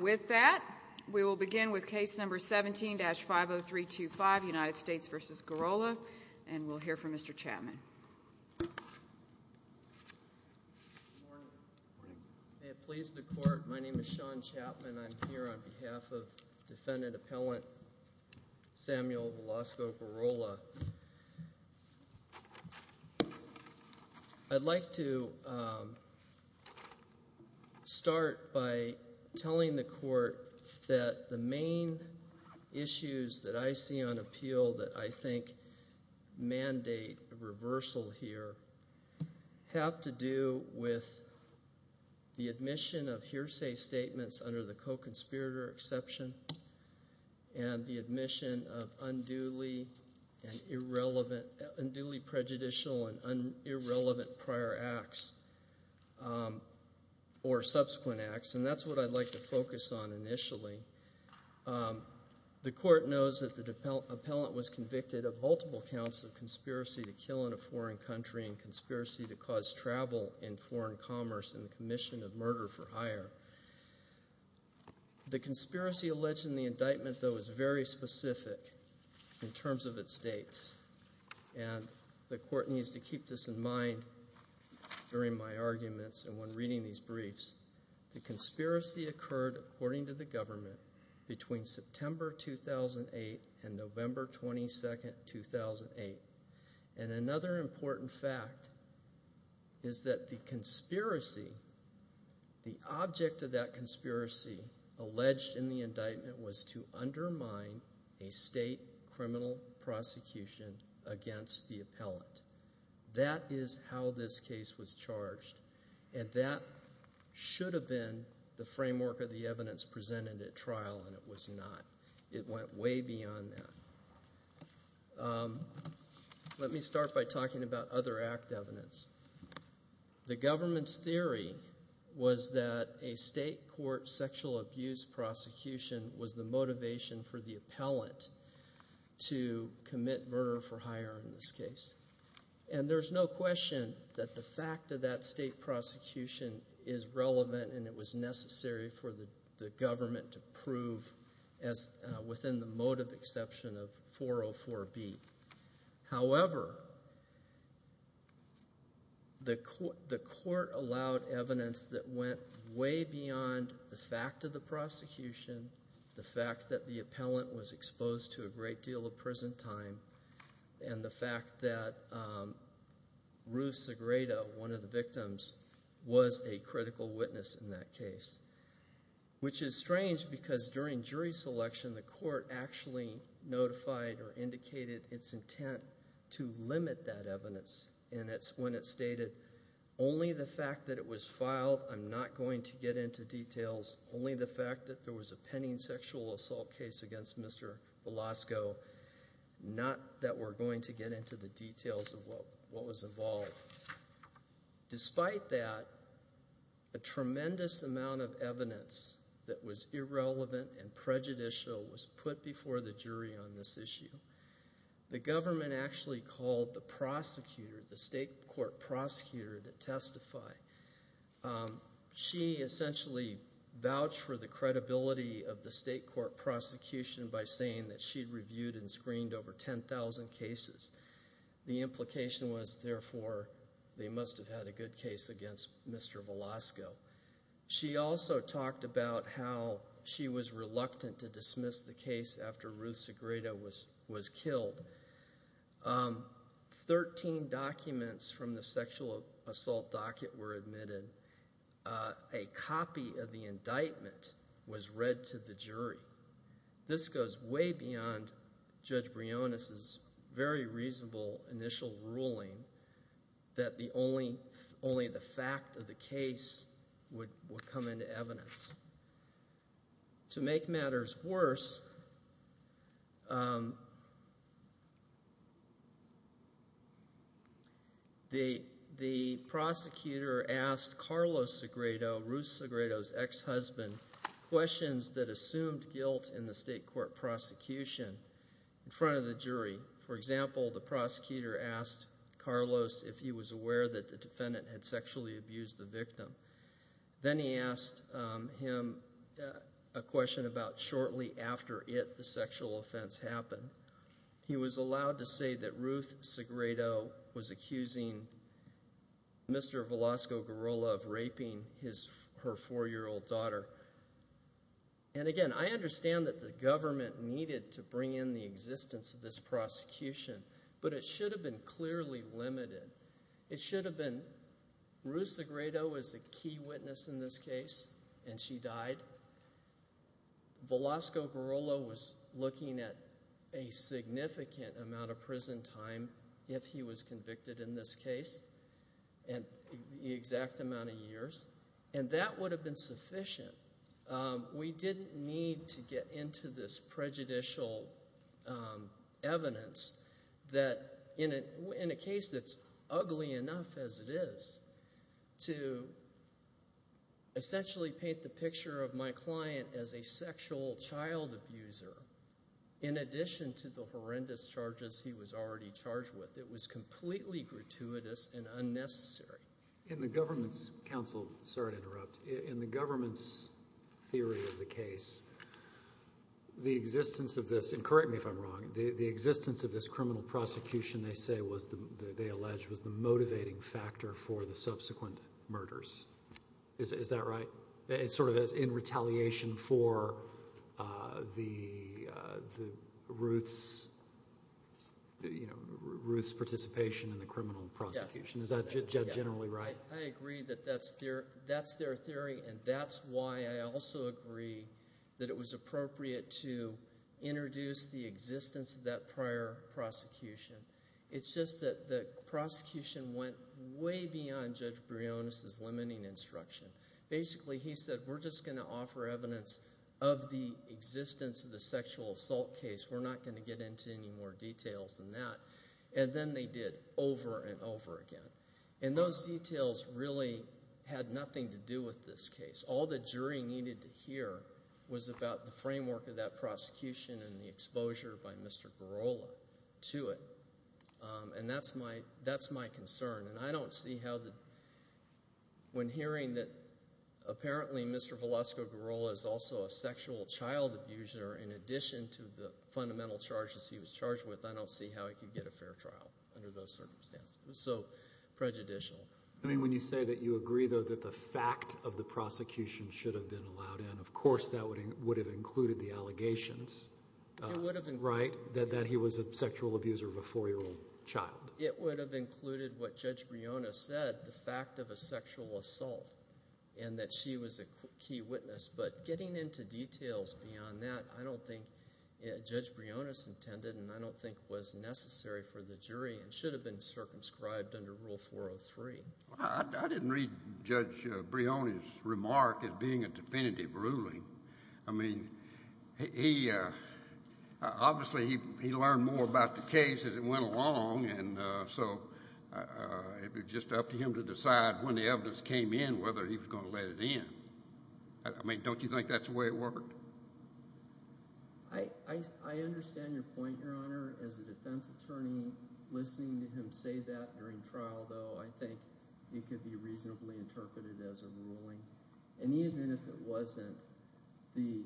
With that, we will begin with case number 17-50325, United States v. Gurrola, and we'll hear from Mr. Chapman. Good morning. May it please the court, my name is Sean Chapman. I'm here on behalf of defendant appellant Samuel Velasco Gurrola. I'd like to start by telling the court that the main issues that I see on appeal that I think mandate reversal here have to do with the admission of hearsay statements under the co-conspirator exception and the admission of unduly prejudicial and irrelevant prior acts or subsequent acts, and that's what I'd like to focus on initially. The court knows that the appellant was convicted of multiple counts of conspiracy to kill in a foreign country and conspiracy to cause travel in foreign commerce and commission of murder for hire. The conspiracy alleged in the indictment, though, is very specific in terms of its dates, and the court needs to keep this in mind during my arguments and when reading these briefs. The conspiracy occurred, according to the government, between September 2008 and November 22, 2008, and another important fact is that the object of that conspiracy alleged in the indictment was to undermine a state criminal prosecution against the appellant. That is how this case was charged, and that should have been the framework of the evidence presented at trial, and it was not. It went way beyond that. Let me start by talking about other act evidence. The government's theory was that a state court sexual abuse prosecution was the motivation for the appellant to commit murder for hire in this case, and there's no question that the fact of that state prosecution is relevant and it was necessary for the government to prove within the motive exception of 404B. However, the court allowed evidence that went way beyond the fact of the prosecution, the fact that the appellant was exposed to a great deal of prison time, and the fact that Ruth Segreda, one of the victims, was a critical witness in that case, which is strange because during jury selection, the court actually notified or indicated its intent to limit that evidence, and that's when it stated, only the fact that it was filed, I'm not going to get into details. Only the fact that there was a pending sexual assault case against Mr. Velasco, not that we're going to get into the details of what was involved. Despite that, a tremendous amount of evidence that was irrelevant and prejudicial was put before the jury on this issue. The government actually called the prosecutor, the state court prosecutor to testify. She essentially vouched for the credibility of the state court prosecution by saying that she'd reviewed and screened over 10,000 cases. The implication was, therefore, they must have had a good case against Mr. Velasco. She also talked about how she was reluctant to dismiss the case after Ruth Segreda was killed. Thirteen documents from the sexual assault docket were admitted. A copy of the indictment was read to the jury. This goes way beyond Judge Briones' very reasonable initial ruling that only the fact of the case would come into evidence. To make matters worse, the prosecutor asked Carlos Segredo, Ruth Segredo's ex-husband, questions that assumed guilt in the state court prosecution in front of the jury. For example, the prosecutor asked Carlos if he was aware that the defendant had sexually abused the victim. Then he asked him a question about shortly after it, the sexual offense happened. He was allowed to say that Ruth Segredo was accusing Mr. Velasco Gorilla of raping her four-year-old daughter. Again, I understand that the government needed to bring in the existence of this prosecution, but it should have been clearly limited. It should have been – Ruth Segredo was a key witness in this case, and she died. Velasco Gorilla was looking at a significant amount of prison time if he was convicted in this case and the exact amount of years, and that would have been sufficient. We didn't need to get into this prejudicial evidence that in a case that's ugly enough as it is to essentially paint the picture of my client as a sexual child abuser in addition to the horrendous charges he was already charged with. It was completely gratuitous and unnecessary. In the government's – Counsel, sorry to interrupt. In the government's theory of the case, the existence of this – and correct me if I'm wrong. The existence of this criminal prosecution they say was – they allege was the motivating factor for the subsequent murders. Is that right? It's sort of in retaliation for the – Ruth's participation in the criminal prosecution. Is that generally right? I agree that that's their theory, and that's why I also agree that it was appropriate to introduce the existence of that prior prosecution. It's just that the prosecution went way beyond Judge Brionis' limiting instruction. Basically, he said we're just going to offer evidence of the existence of the sexual assault case. We're not going to get into any more details than that. And then they did over and over again, and those details really had nothing to do with this case. All the jury needed to hear was about the framework of that prosecution and the exposure by Mr. Girola to it, and that's my concern. And I don't see how the – when hearing that apparently Mr. Velasco Girola is also a sexual child abuser in addition to the fundamental charges he was charged with, I don't see how he could get a fair trial under those circumstances. It was so prejudicial. I mean when you say that you agree, though, that the fact of the prosecution should have been allowed in, of course that would have included the allegations, right? That he was a sexual abuser of a four-year-old child. It would have included what Judge Brionis said, the fact of a sexual assault, and that she was a key witness. But getting into details beyond that, I don't think – Judge Brionis intended and I don't think was necessary for the jury and should have been circumscribed under Rule 403. I didn't read Judge Brionis' remark as being a definitive ruling. I mean he – obviously he learned more about the case as it went along, and so it was just up to him to decide when the evidence came in whether he was going to let it in. I mean don't you think that's the way it worked? I understand your point, Your Honor. As a defense attorney, listening to him say that during trial, though, I think it could be reasonably interpreted as a ruling. And even if it wasn't, the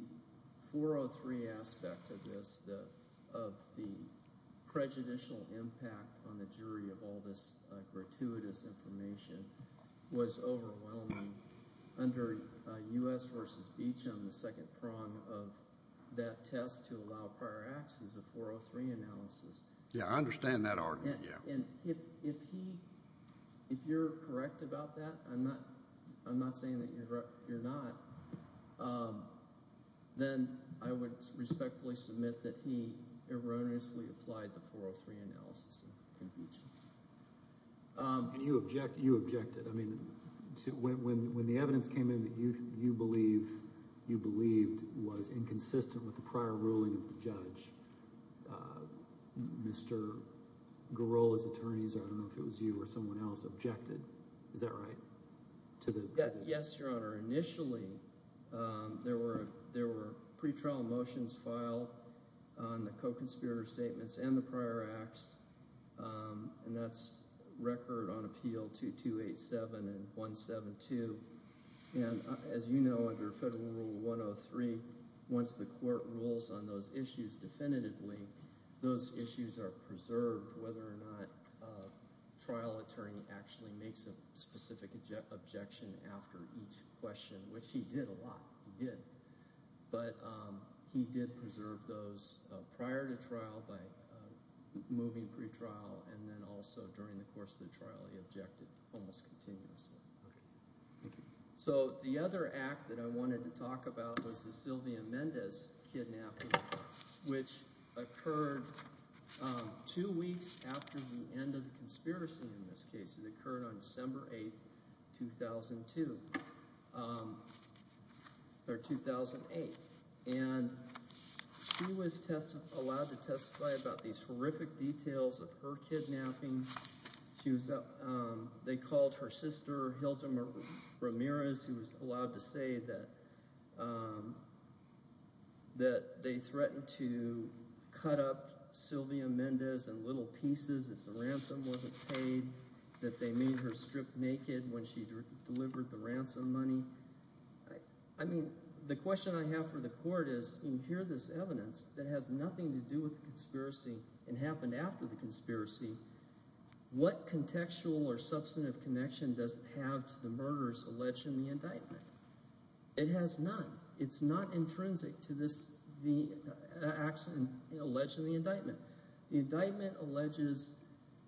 403 aspect of this, of the prejudicial impact on the jury of all this gratuitous information, was overwhelming under U.S. v. Beach on the second prong of that test to allow prior access of 403 analysis. Yeah, I understand that argument, yeah. And if he – if you're correct about that – I'm not saying that you're not – then I would respectfully submit that he erroneously applied the 403 analysis in Beach. And you object – you objected. I mean when the evidence came in that you believe – you believed was inconsistent with the prior ruling of the judge, Mr. Garola's attorneys – I don't know if it was you or someone else – objected. Is that right? Yes, Your Honor. There were pre-trial motions filed on the co-conspirator statements and the prior acts, and that's record on appeal 2287 and 172. And as you know, under Federal Rule 103, once the court rules on those issues definitively, those issues are preserved whether or not a trial attorney actually makes a specific objection after each question, which he did a lot. He did. But he did preserve those prior to trial by moving pre-trial, and then also during the course of the trial he objected almost continuously. So the other act that I wanted to talk about was the Sylvia Mendez kidnapping, which occurred two weeks after the end of the conspiracy in this case. It occurred on December 8, 2002 – or 2008. And she was allowed to testify about these horrific details of her kidnapping. They called her sister, Hilda Ramirez, who was allowed to say that they threatened to cut up Sylvia Mendez in little pieces if the ransom wasn't paid, that they made her strip naked when she delivered the ransom money. I mean the question I have for the court is when you hear this evidence that has nothing to do with the conspiracy and happened after the conspiracy, what contextual or substantive connection does it have to the murders alleged in the indictment? It has none. It's not intrinsic to this – the accident alleged in the indictment. The indictment alleges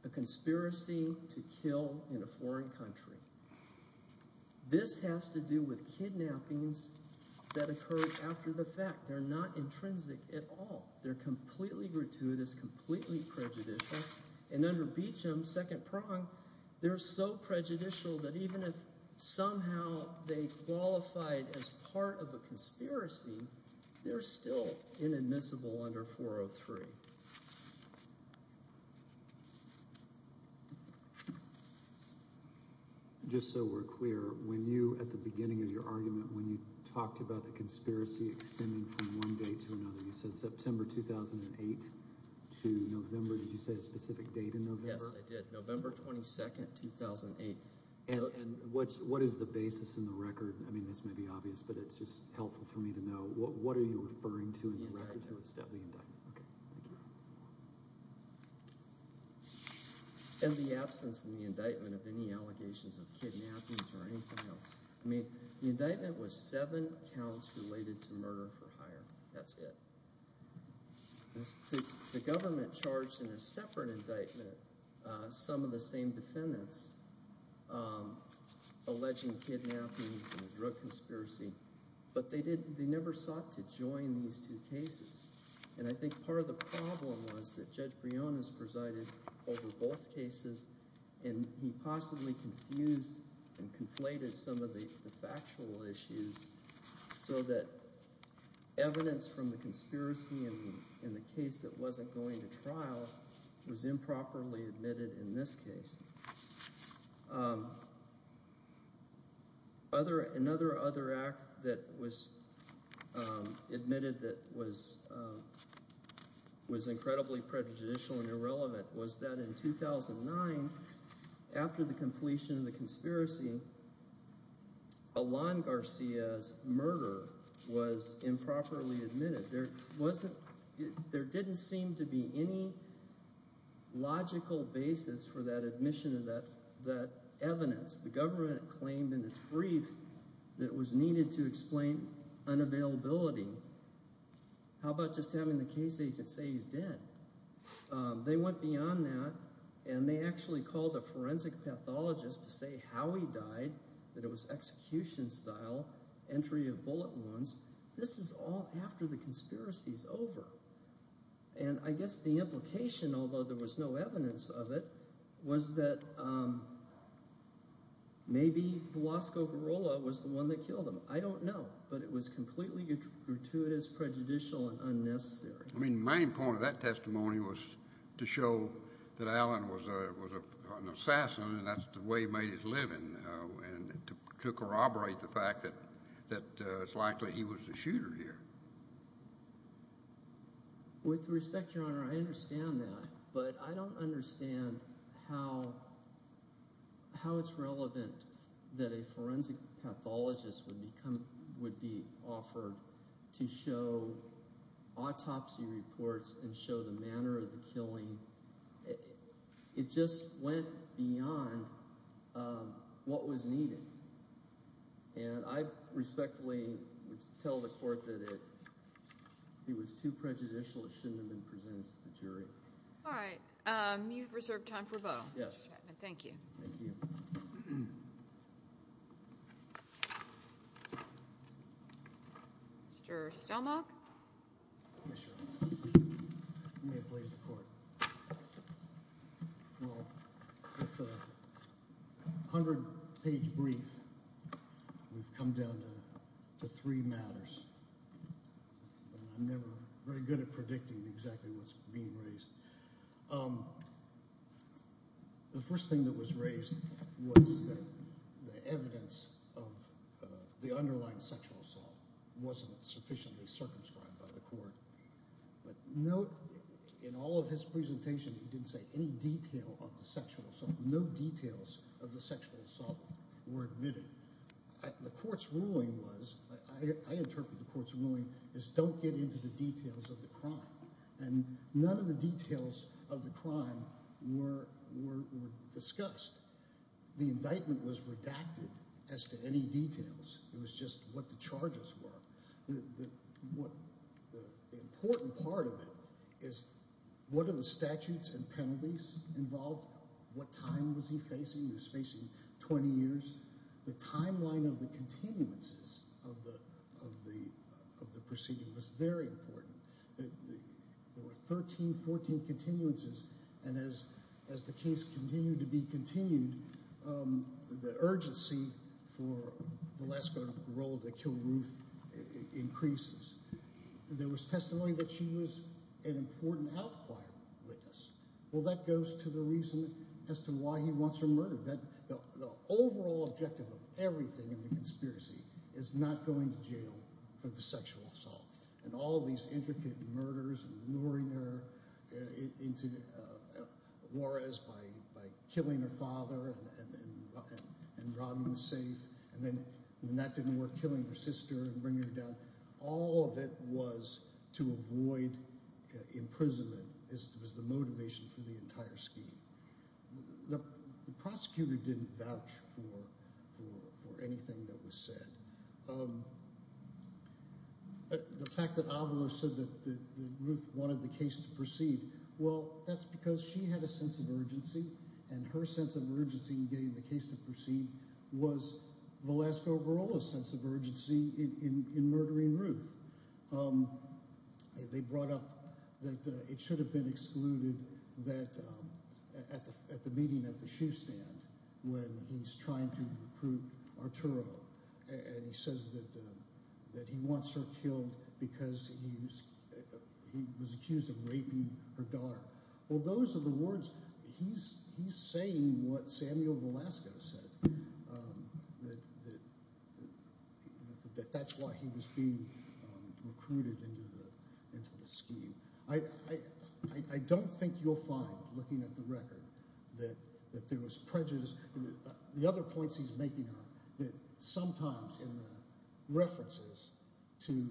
a conspiracy to kill in a foreign country. This has to do with kidnappings that occurred after the fact. They're not intrinsic at all. They're completely gratuitous, completely prejudicial, and under Beecham, second prong, they're so prejudicial that even if somehow they qualified as part of a conspiracy, they're still inadmissible under 403. Just so we're clear, when you, at the beginning of your argument, when you talked about the conspiracy extending from one day to another, you said September 2008 to November. Did you say a specific date in November? Yes, I did. November 22, 2008. And what is the basis in the record? I mean this may be obvious, but it's just helpful for me to know. The indictment. Okay, thank you. And the absence in the indictment of any allegations of kidnappings or anything else. I mean the indictment was seven counts related to murder for hire. That's it. The government charged in a separate indictment some of the same defendants alleging kidnappings and a drug conspiracy, but they never sought to join these two cases. And I think part of the problem was that Judge Briones presided over both cases, and he possibly confused and conflated some of the factual issues so that evidence from the conspiracy and the case that wasn't going to trial was improperly admitted in this case. Another act that was admitted that was incredibly prejudicial and irrelevant was that in 2009, after the completion of the conspiracy, Alon Garcia's murder was improperly admitted. There didn't seem to be any logical basis for that admission of that evidence. The government claimed in its brief that it was needed to explain unavailability. How about just having the case agent say he's dead? They went beyond that, and they actually called a forensic pathologist to say how he died, that it was execution-style, entry of bullet wounds. This is all after the conspiracy is over. And I guess the implication, although there was no evidence of it, was that maybe Velasco Girola was the one that killed him. I don't know, but it was completely gratuitous, prejudicial, and unnecessary. I mean the main point of that testimony was to show that Alon was an assassin, and that's the way he made his living, and to corroborate the fact that it's likely he was the shooter here. With respect, Your Honor, I understand that, but I don't understand how it's relevant that a forensic pathologist would be offered to show autopsy reports and show the manner of the killing. It just went beyond what was needed. And I respectfully tell the court that it was too prejudicial. It shouldn't have been presented to the jury. All right. You have reserved time for a vote. Yes. Thank you. Thank you. Mr. Stelmach? Yes, Your Honor. You may have placed the court. Well, with a hundred-page brief, we've come down to three matters, and I'm never very good at predicting exactly what's being raised. The first thing that was raised was that the evidence of the underlying sexual assault wasn't sufficiently circumscribed by the court. In all of his presentation, he didn't say any detail of the sexual assault. No details of the sexual assault were admitted. The court's ruling was – I interpret the court's ruling as don't get into the details of the crime, and none of the details of the crime were discussed. The indictment was redacted as to any details. It was just what the charges were. The important part of it is what are the statutes and penalties involved? What time was he facing? He was facing 20 years. The timeline of the continuances of the proceeding was very important. There were 13, 14 continuances, and as the case continued to be continued, the urgency for the last-minute role to kill Ruth increases. There was testimony that she was an important outlier witness. Well, that goes to the reason as to why he wants her murdered. The overall objective of everything in the conspiracy is not going to jail for the sexual assault. All of these intricate murders, luring her into Juarez by killing her father and robbing the safe, and then when that didn't work, killing her sister and bringing her down. All of it was to avoid imprisonment as the motivation for the entire scheme. The prosecutor didn't vouch for anything that was said. The fact that Avalos said that Ruth wanted the case to proceed, well, that's because she had a sense of urgency, and her sense of urgency in getting the case to proceed was Velasco Barola's sense of urgency in murdering Ruth. They brought up that it should have been excluded at the meeting at the shoe stand when he's trying to recruit Arturo, and he says that he wants her killed because he was accused of raping her daughter. Well, those are the words. He's saying what Samuel Velasco said, that that's why he was being recruited into the scheme. I don't think you'll find, looking at the record, that there was prejudice. The other points he's making are that sometimes in the references to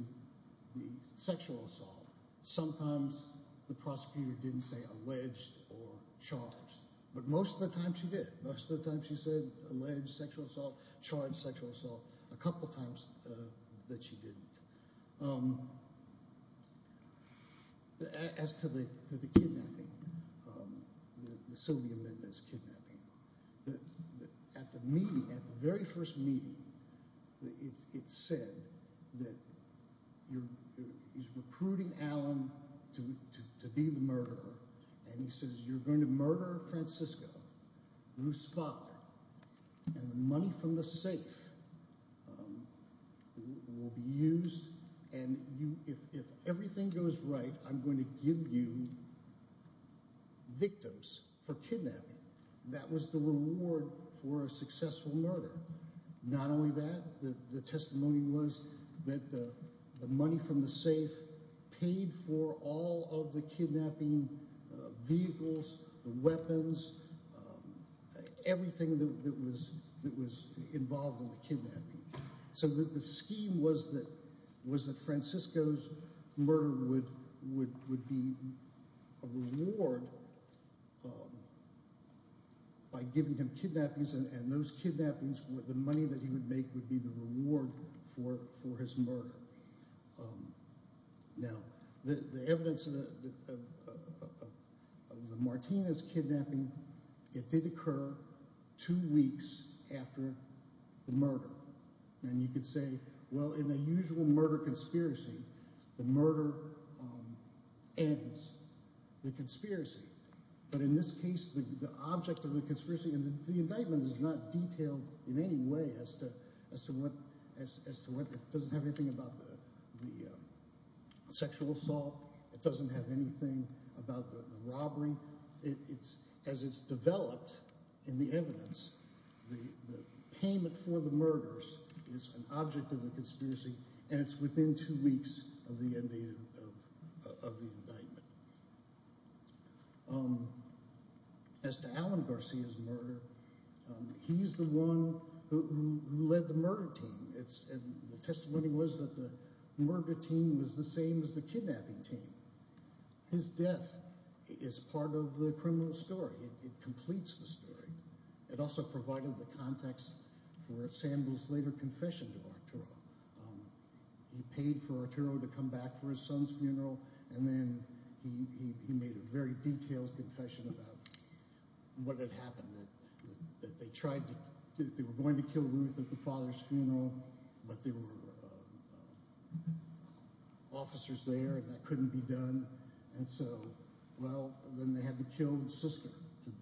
the sexual assault, sometimes the prosecutor didn't say alleged or charged, but most of the time she did. Most of the time she said alleged sexual assault, charged sexual assault. A couple of times that she didn't. As to the kidnapping, the Sylvia Mendez kidnapping, at the meeting, at the very first meeting, it said that he's recruiting Alan to be the murderer, and he says you're going to murder Francisco, Ruth's father, and the money from the safe will be used, and if everything goes right, I'm going to give you victims for kidnapping. That was the reward for a successful murder. Not only that, the testimony was that the money from the safe paid for all of the kidnapping vehicles, the weapons, everything that was involved in the kidnapping. So the scheme was that Francisco's murder would be a reward by giving him kidnappings, and those kidnappings, the money that he would make would be the reward for his murder. Now, the evidence of the Martinez kidnapping, it did occur two weeks after the murder, and you could say, well, in a usual murder conspiracy, the murder ends the conspiracy, but in this case, the object of the conspiracy, and the indictment is not detailed in any way as to what, it doesn't have anything about the sexual assault, it doesn't have anything about the robbery, but as it's developed in the evidence, the payment for the murders is an object of the conspiracy, and it's within two weeks of the indictment. As to Alan Garcia's murder, he's the one who led the murder team, and the testimony was that the murder team was the same as the kidnapping team. His death is part of the criminal story. It completes the story. It also provided the context for Samuel's later confession to Arturo. He paid for Arturo to come back for his son's funeral, and then he made a very detailed confession about what had happened, that they were going to kill Ruth at the father's funeral, but there were officers there and that couldn't be done, and so, well, then they had to kill his sister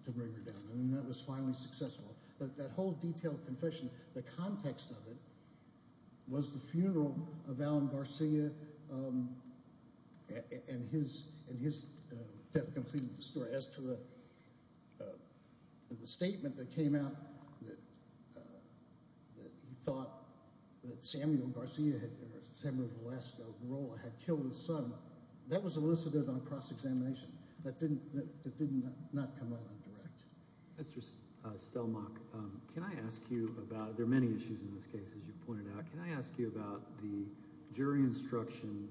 to bring her down, and that was finally successful. That whole detailed confession, the context of it was the funeral of Alan Garcia, and his death completed the story. As to the statement that came out that he thought that Samuel Velasco Barola had killed his son, that was elicited on cross-examination. That did not come out indirect. Mr. Stelmach, can I ask you about – there are many issues in this case, as you pointed out – can I ask you about the jury instruction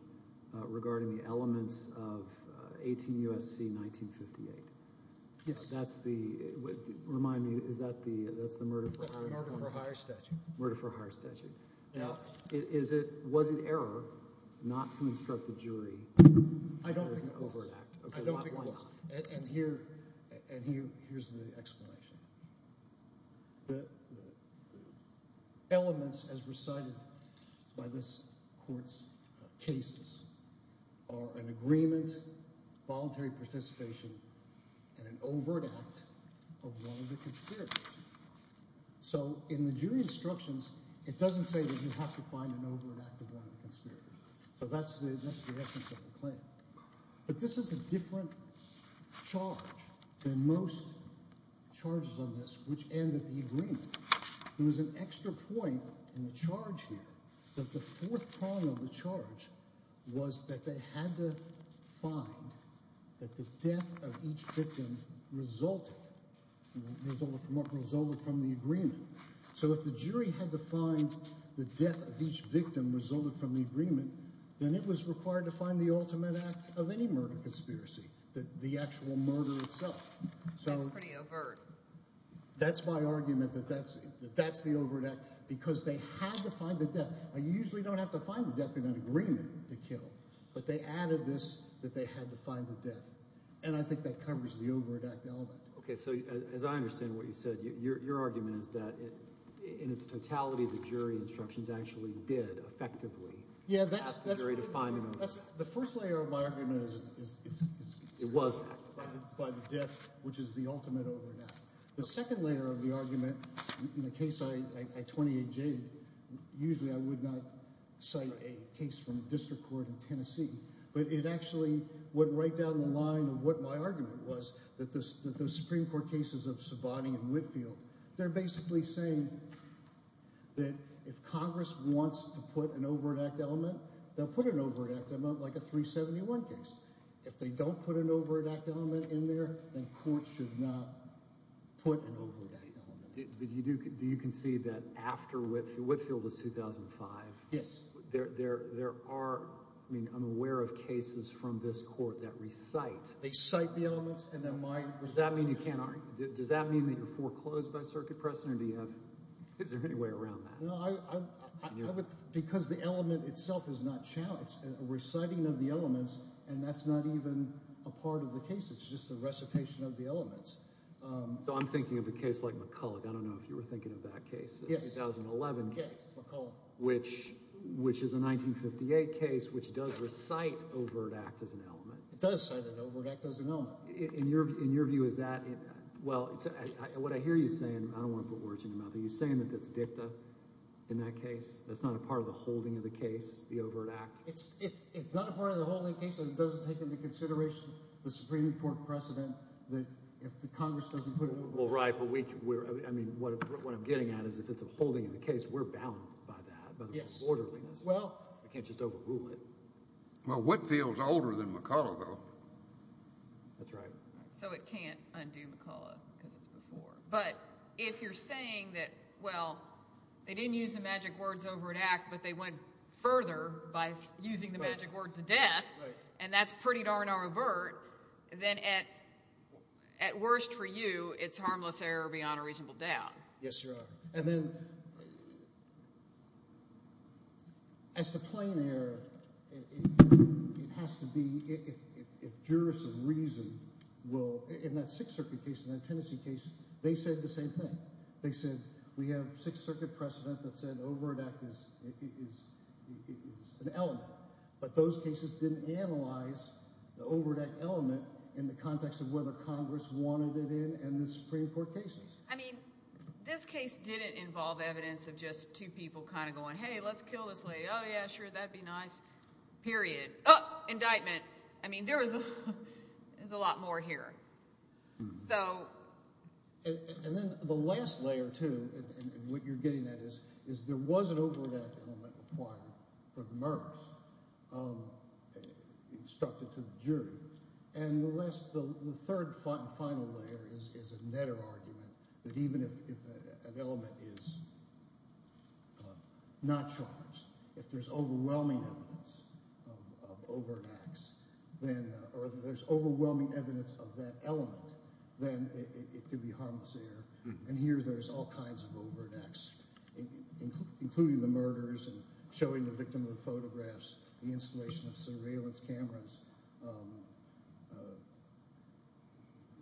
regarding the elements of 18 U.S.C. 1958? Yes. That's the – remind me, is that the murder for hire statute? That's the murder for hire statute. Murder for hire statute. Yeah. Was it error not to instruct the jury? I don't think so. And here's the explanation. The elements, as recited by this court's cases, are an agreement, voluntary participation, and an overt act of one of the conspirators. So in the jury instructions, it doesn't say that you have to find an overt act of one of the conspirators. So that's the essence of the claim. But this is a different charge than most charges on this, which end at the agreement. There was an extra point in the charge here that the fourth prong of the charge was that they had to find that the death of each victim resulted from the agreement. So if the jury had to find the death of each victim resulted from the agreement, then it was required to find the ultimate act of any murder conspiracy, the actual murder itself. That's pretty overt. That's my argument that that's the overt act because they had to find the death. You usually don't have to find the death in an agreement to kill, but they added this that they had to find the death. And I think that covers the overt act element. Okay, so as I understand what you said, your argument is that in its totality, the jury instructions actually did effectively ask the jury to find an overt act. The first layer of my argument is it was an act by the death, which is the ultimate overt act. The second layer of the argument in the case I 28J'd, usually I would not cite a case from a district court in Tennessee. But it actually went right down the line of what my argument was, that the Supreme Court cases of Sabani and Whitfield, they're basically saying that if Congress wants to put an overt act element, they'll put an overt act element like a 371 case. If they don't put an overt act element in there, then courts should not put an overt act element. But you do – do you concede that after – Whitfield is 2005. Yes. There are – I mean I'm aware of cases from this court that recite. They cite the elements and then my – Does that mean you can't – does that mean that you're foreclosed by circuit precedent or do you have – is there any way around that? No, I would – because the element itself is not challenged. A reciting of the elements and that's not even a part of the case. It's just a recitation of the elements. So I'm thinking of a case like McCulloch. I don't know if you were thinking of that case. Yes. The 2011 case. McCulloch. Which is a 1958 case which does recite overt act as an element. It does cite an overt act as an element. In your view, is that – well, what I hear you saying – I don't want to put words in your mouth. Are you saying that that's dicta in that case? That's not a part of the holding of the case, the overt act? It's not a part of the holding of the case and it doesn't take into consideration the Supreme Court precedent that if the Congress doesn't put an overt act. Well, right, but we – I mean what I'm getting at is if it's a holding of the case, we're bound by that. Yes. By this orderliness. Well – We can't just overrule it. Well, Whitfield is older than McCulloch though. That's right. So it can't undo McCulloch because it's before. But if you're saying that, well, they didn't use the magic words over an act, but they went further by using the magic words of death, and that's pretty darn overt, then at worst for you it's harmless error beyond a reasonable doubt. And then as to plain error, it has to be – if jurists of reason will – in that Sixth Circuit case, in that Tennessee case, they said the same thing. They said we have Sixth Circuit precedent that said overt act is an element, but those cases didn't analyze the overt act element in the context of whether Congress wanted it in and the Supreme Court cases. I mean this case didn't involve evidence of just two people kind of going, hey, let's kill this lady. Oh, yeah, sure, that'd be nice, period. Oh, indictment. I mean there was – there's a lot more here. So – And then the last layer too, and what you're getting at is there was an overt act element required for the murders instructed to the jury. And the last – the third and final layer is a netter argument that even if an element is not charged, if there's overwhelming evidence of overt acts, then – or if there's overwhelming evidence of that element, then it could be harmless error. And here there's all kinds of overt acts, including the murders and showing the victim with photographs, the installation of surveillance cameras.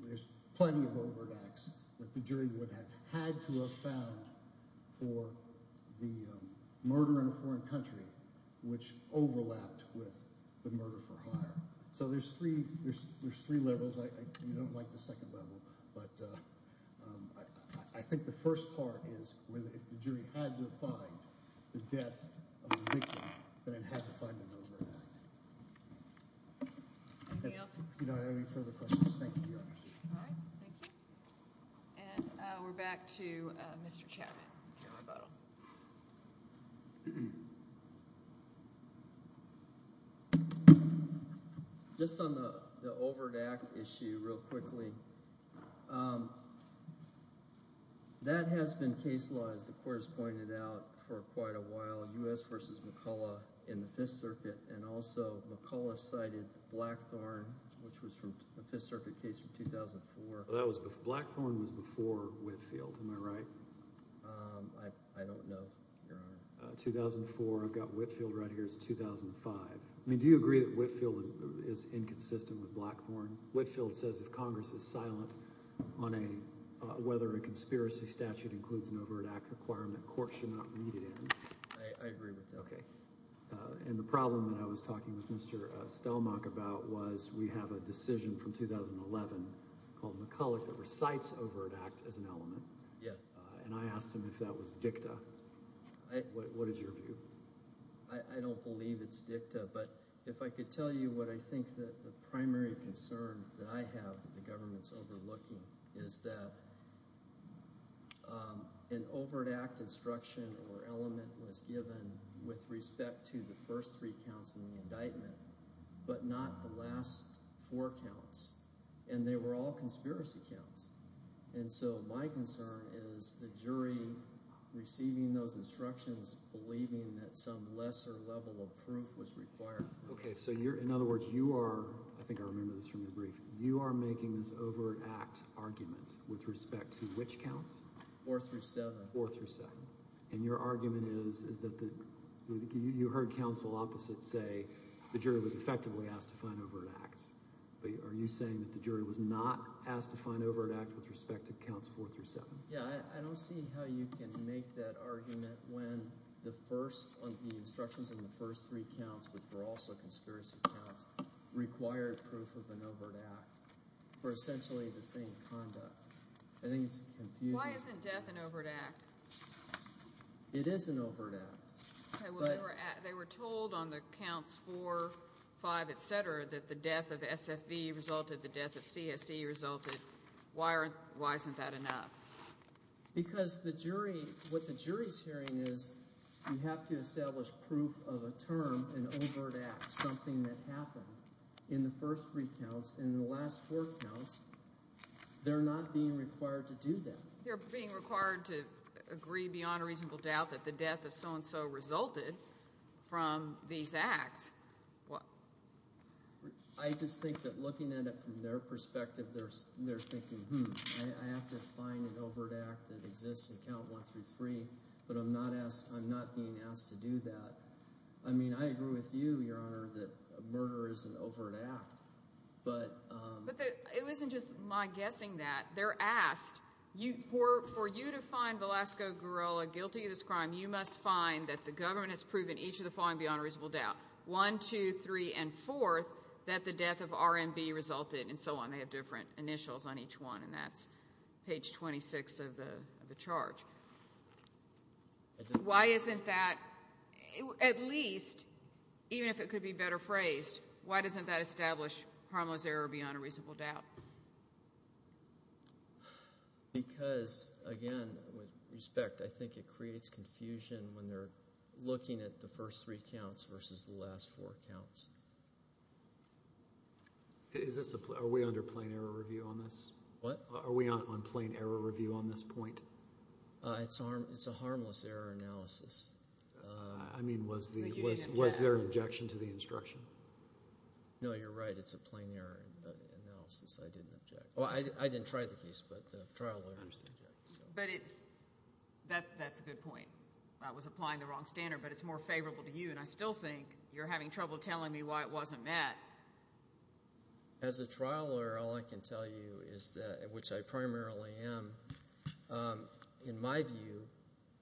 There's plenty of overt acts that the jury would have had to have found for the murder in a foreign country which overlapped with the murder for hire. So there's three levels. You don't like the second level, but I think the first part is if the jury had to find the death of the victim, then it had to find an overt act. Anything else? If you don't have any further questions, thank you. All right. Thank you. And we're back to Mr. Chapman. Just on the overt act issue real quickly, that has been case law, as the court has pointed out, for quite a while, U.S. v. McCullough in the Fifth Circuit. And also McCullough cited Blackthorne, which was from the Fifth Circuit case from 2004. Blackthorne was before Whitefield. Am I right? I don't know, Your Honor. 2004. I've got Whitefield right here. It's 2005. I mean, do you agree that Whitefield is inconsistent with Blackthorne? Whitefield says if Congress is silent on whether a conspiracy statute includes an overt act requirement, courts should not read it in. I agree with that. Okay. And the problem that I was talking with Mr. Stelmach about was we have a decision from 2011 called McCullough that recites overt act as an element. And I asked him if that was dicta. What is your view? I don't believe it's dicta. But if I could tell you what I think the primary concern that I have that the government is overlooking is that an overt act instruction or element was given with respect to the first three counts in the indictment but not the last four counts. And they were all conspiracy counts. And so my concern is the jury receiving those instructions believing that some lesser level of proof was required. Okay. So you're – in other words, you are – I think I remember this from your brief. You are making this overt act argument with respect to which counts? Four through seven. Four through seven. And your argument is that the – you heard counsel opposite say the jury was effectively asked to find overt acts. But are you saying that the jury was not asked to find overt act with respect to counts four through seven? Yeah, I don't see how you can make that argument when the first – the instructions in the first three counts, which were also conspiracy counts, required proof of an overt act for essentially the same conduct. I think it's confusing. Why isn't death an overt act? It is an overt act. Okay, well, they were told on the counts four, five, et cetera, that the death of SFV resulted, the death of CSE resulted. Why aren't – why isn't that enough? Because the jury – what the jury's hearing is you have to establish proof of a term, an overt act, something that happened in the first three counts. And in the last four counts, they're not being required to do that. They're being required to agree beyond a reasonable doubt that the death of so-and-so resulted from these acts. I just think that looking at it from their perspective, they're thinking, hmm, I have to find an overt act that exists in count one through three, but I'm not being asked to do that. I mean I agree with you, Your Honor, that murder is an overt act. But it wasn't just my guessing that. They're asked, for you to find Velasco Guerrero guilty of this crime, you must find that the government has proven each of the following beyond a reasonable doubt, one, two, three, and fourth, that the death of RMB resulted, and so on. They have different initials on each one, and that's page 26 of the charge. Why isn't that, at least, even if it could be better phrased, why doesn't that establish harmless error beyond a reasonable doubt? Because, again, with respect, I think it creates confusion when they're looking at the first three counts versus the last four counts. Are we under plain error review on this? What? Are we on plain error review on this point? It's a harmless error analysis. I mean, was there an objection to the instruction? No, you're right. It's a plain error analysis. I didn't object. Well, I didn't try the case, but the trial lawyers objected. But it's – that's a good point. I was applying the wrong standard, but it's more favorable to you, and I still think you're having trouble telling me why it wasn't that. As a trial lawyer, all I can tell you is that – which I primarily am – in my view,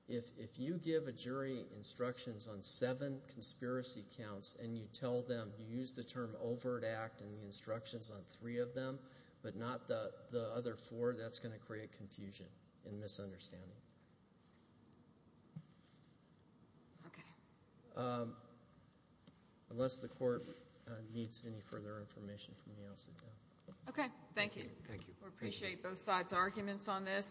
if you give a jury instructions on seven conspiracy counts and you tell them – you use the term overt act and the instructions on three of them but not the other four, that's going to create confusion and misunderstanding. Okay. Unless the court needs any further information from me, I'll sit down. Okay. Thank you. Thank you. We appreciate both sides' arguments on this.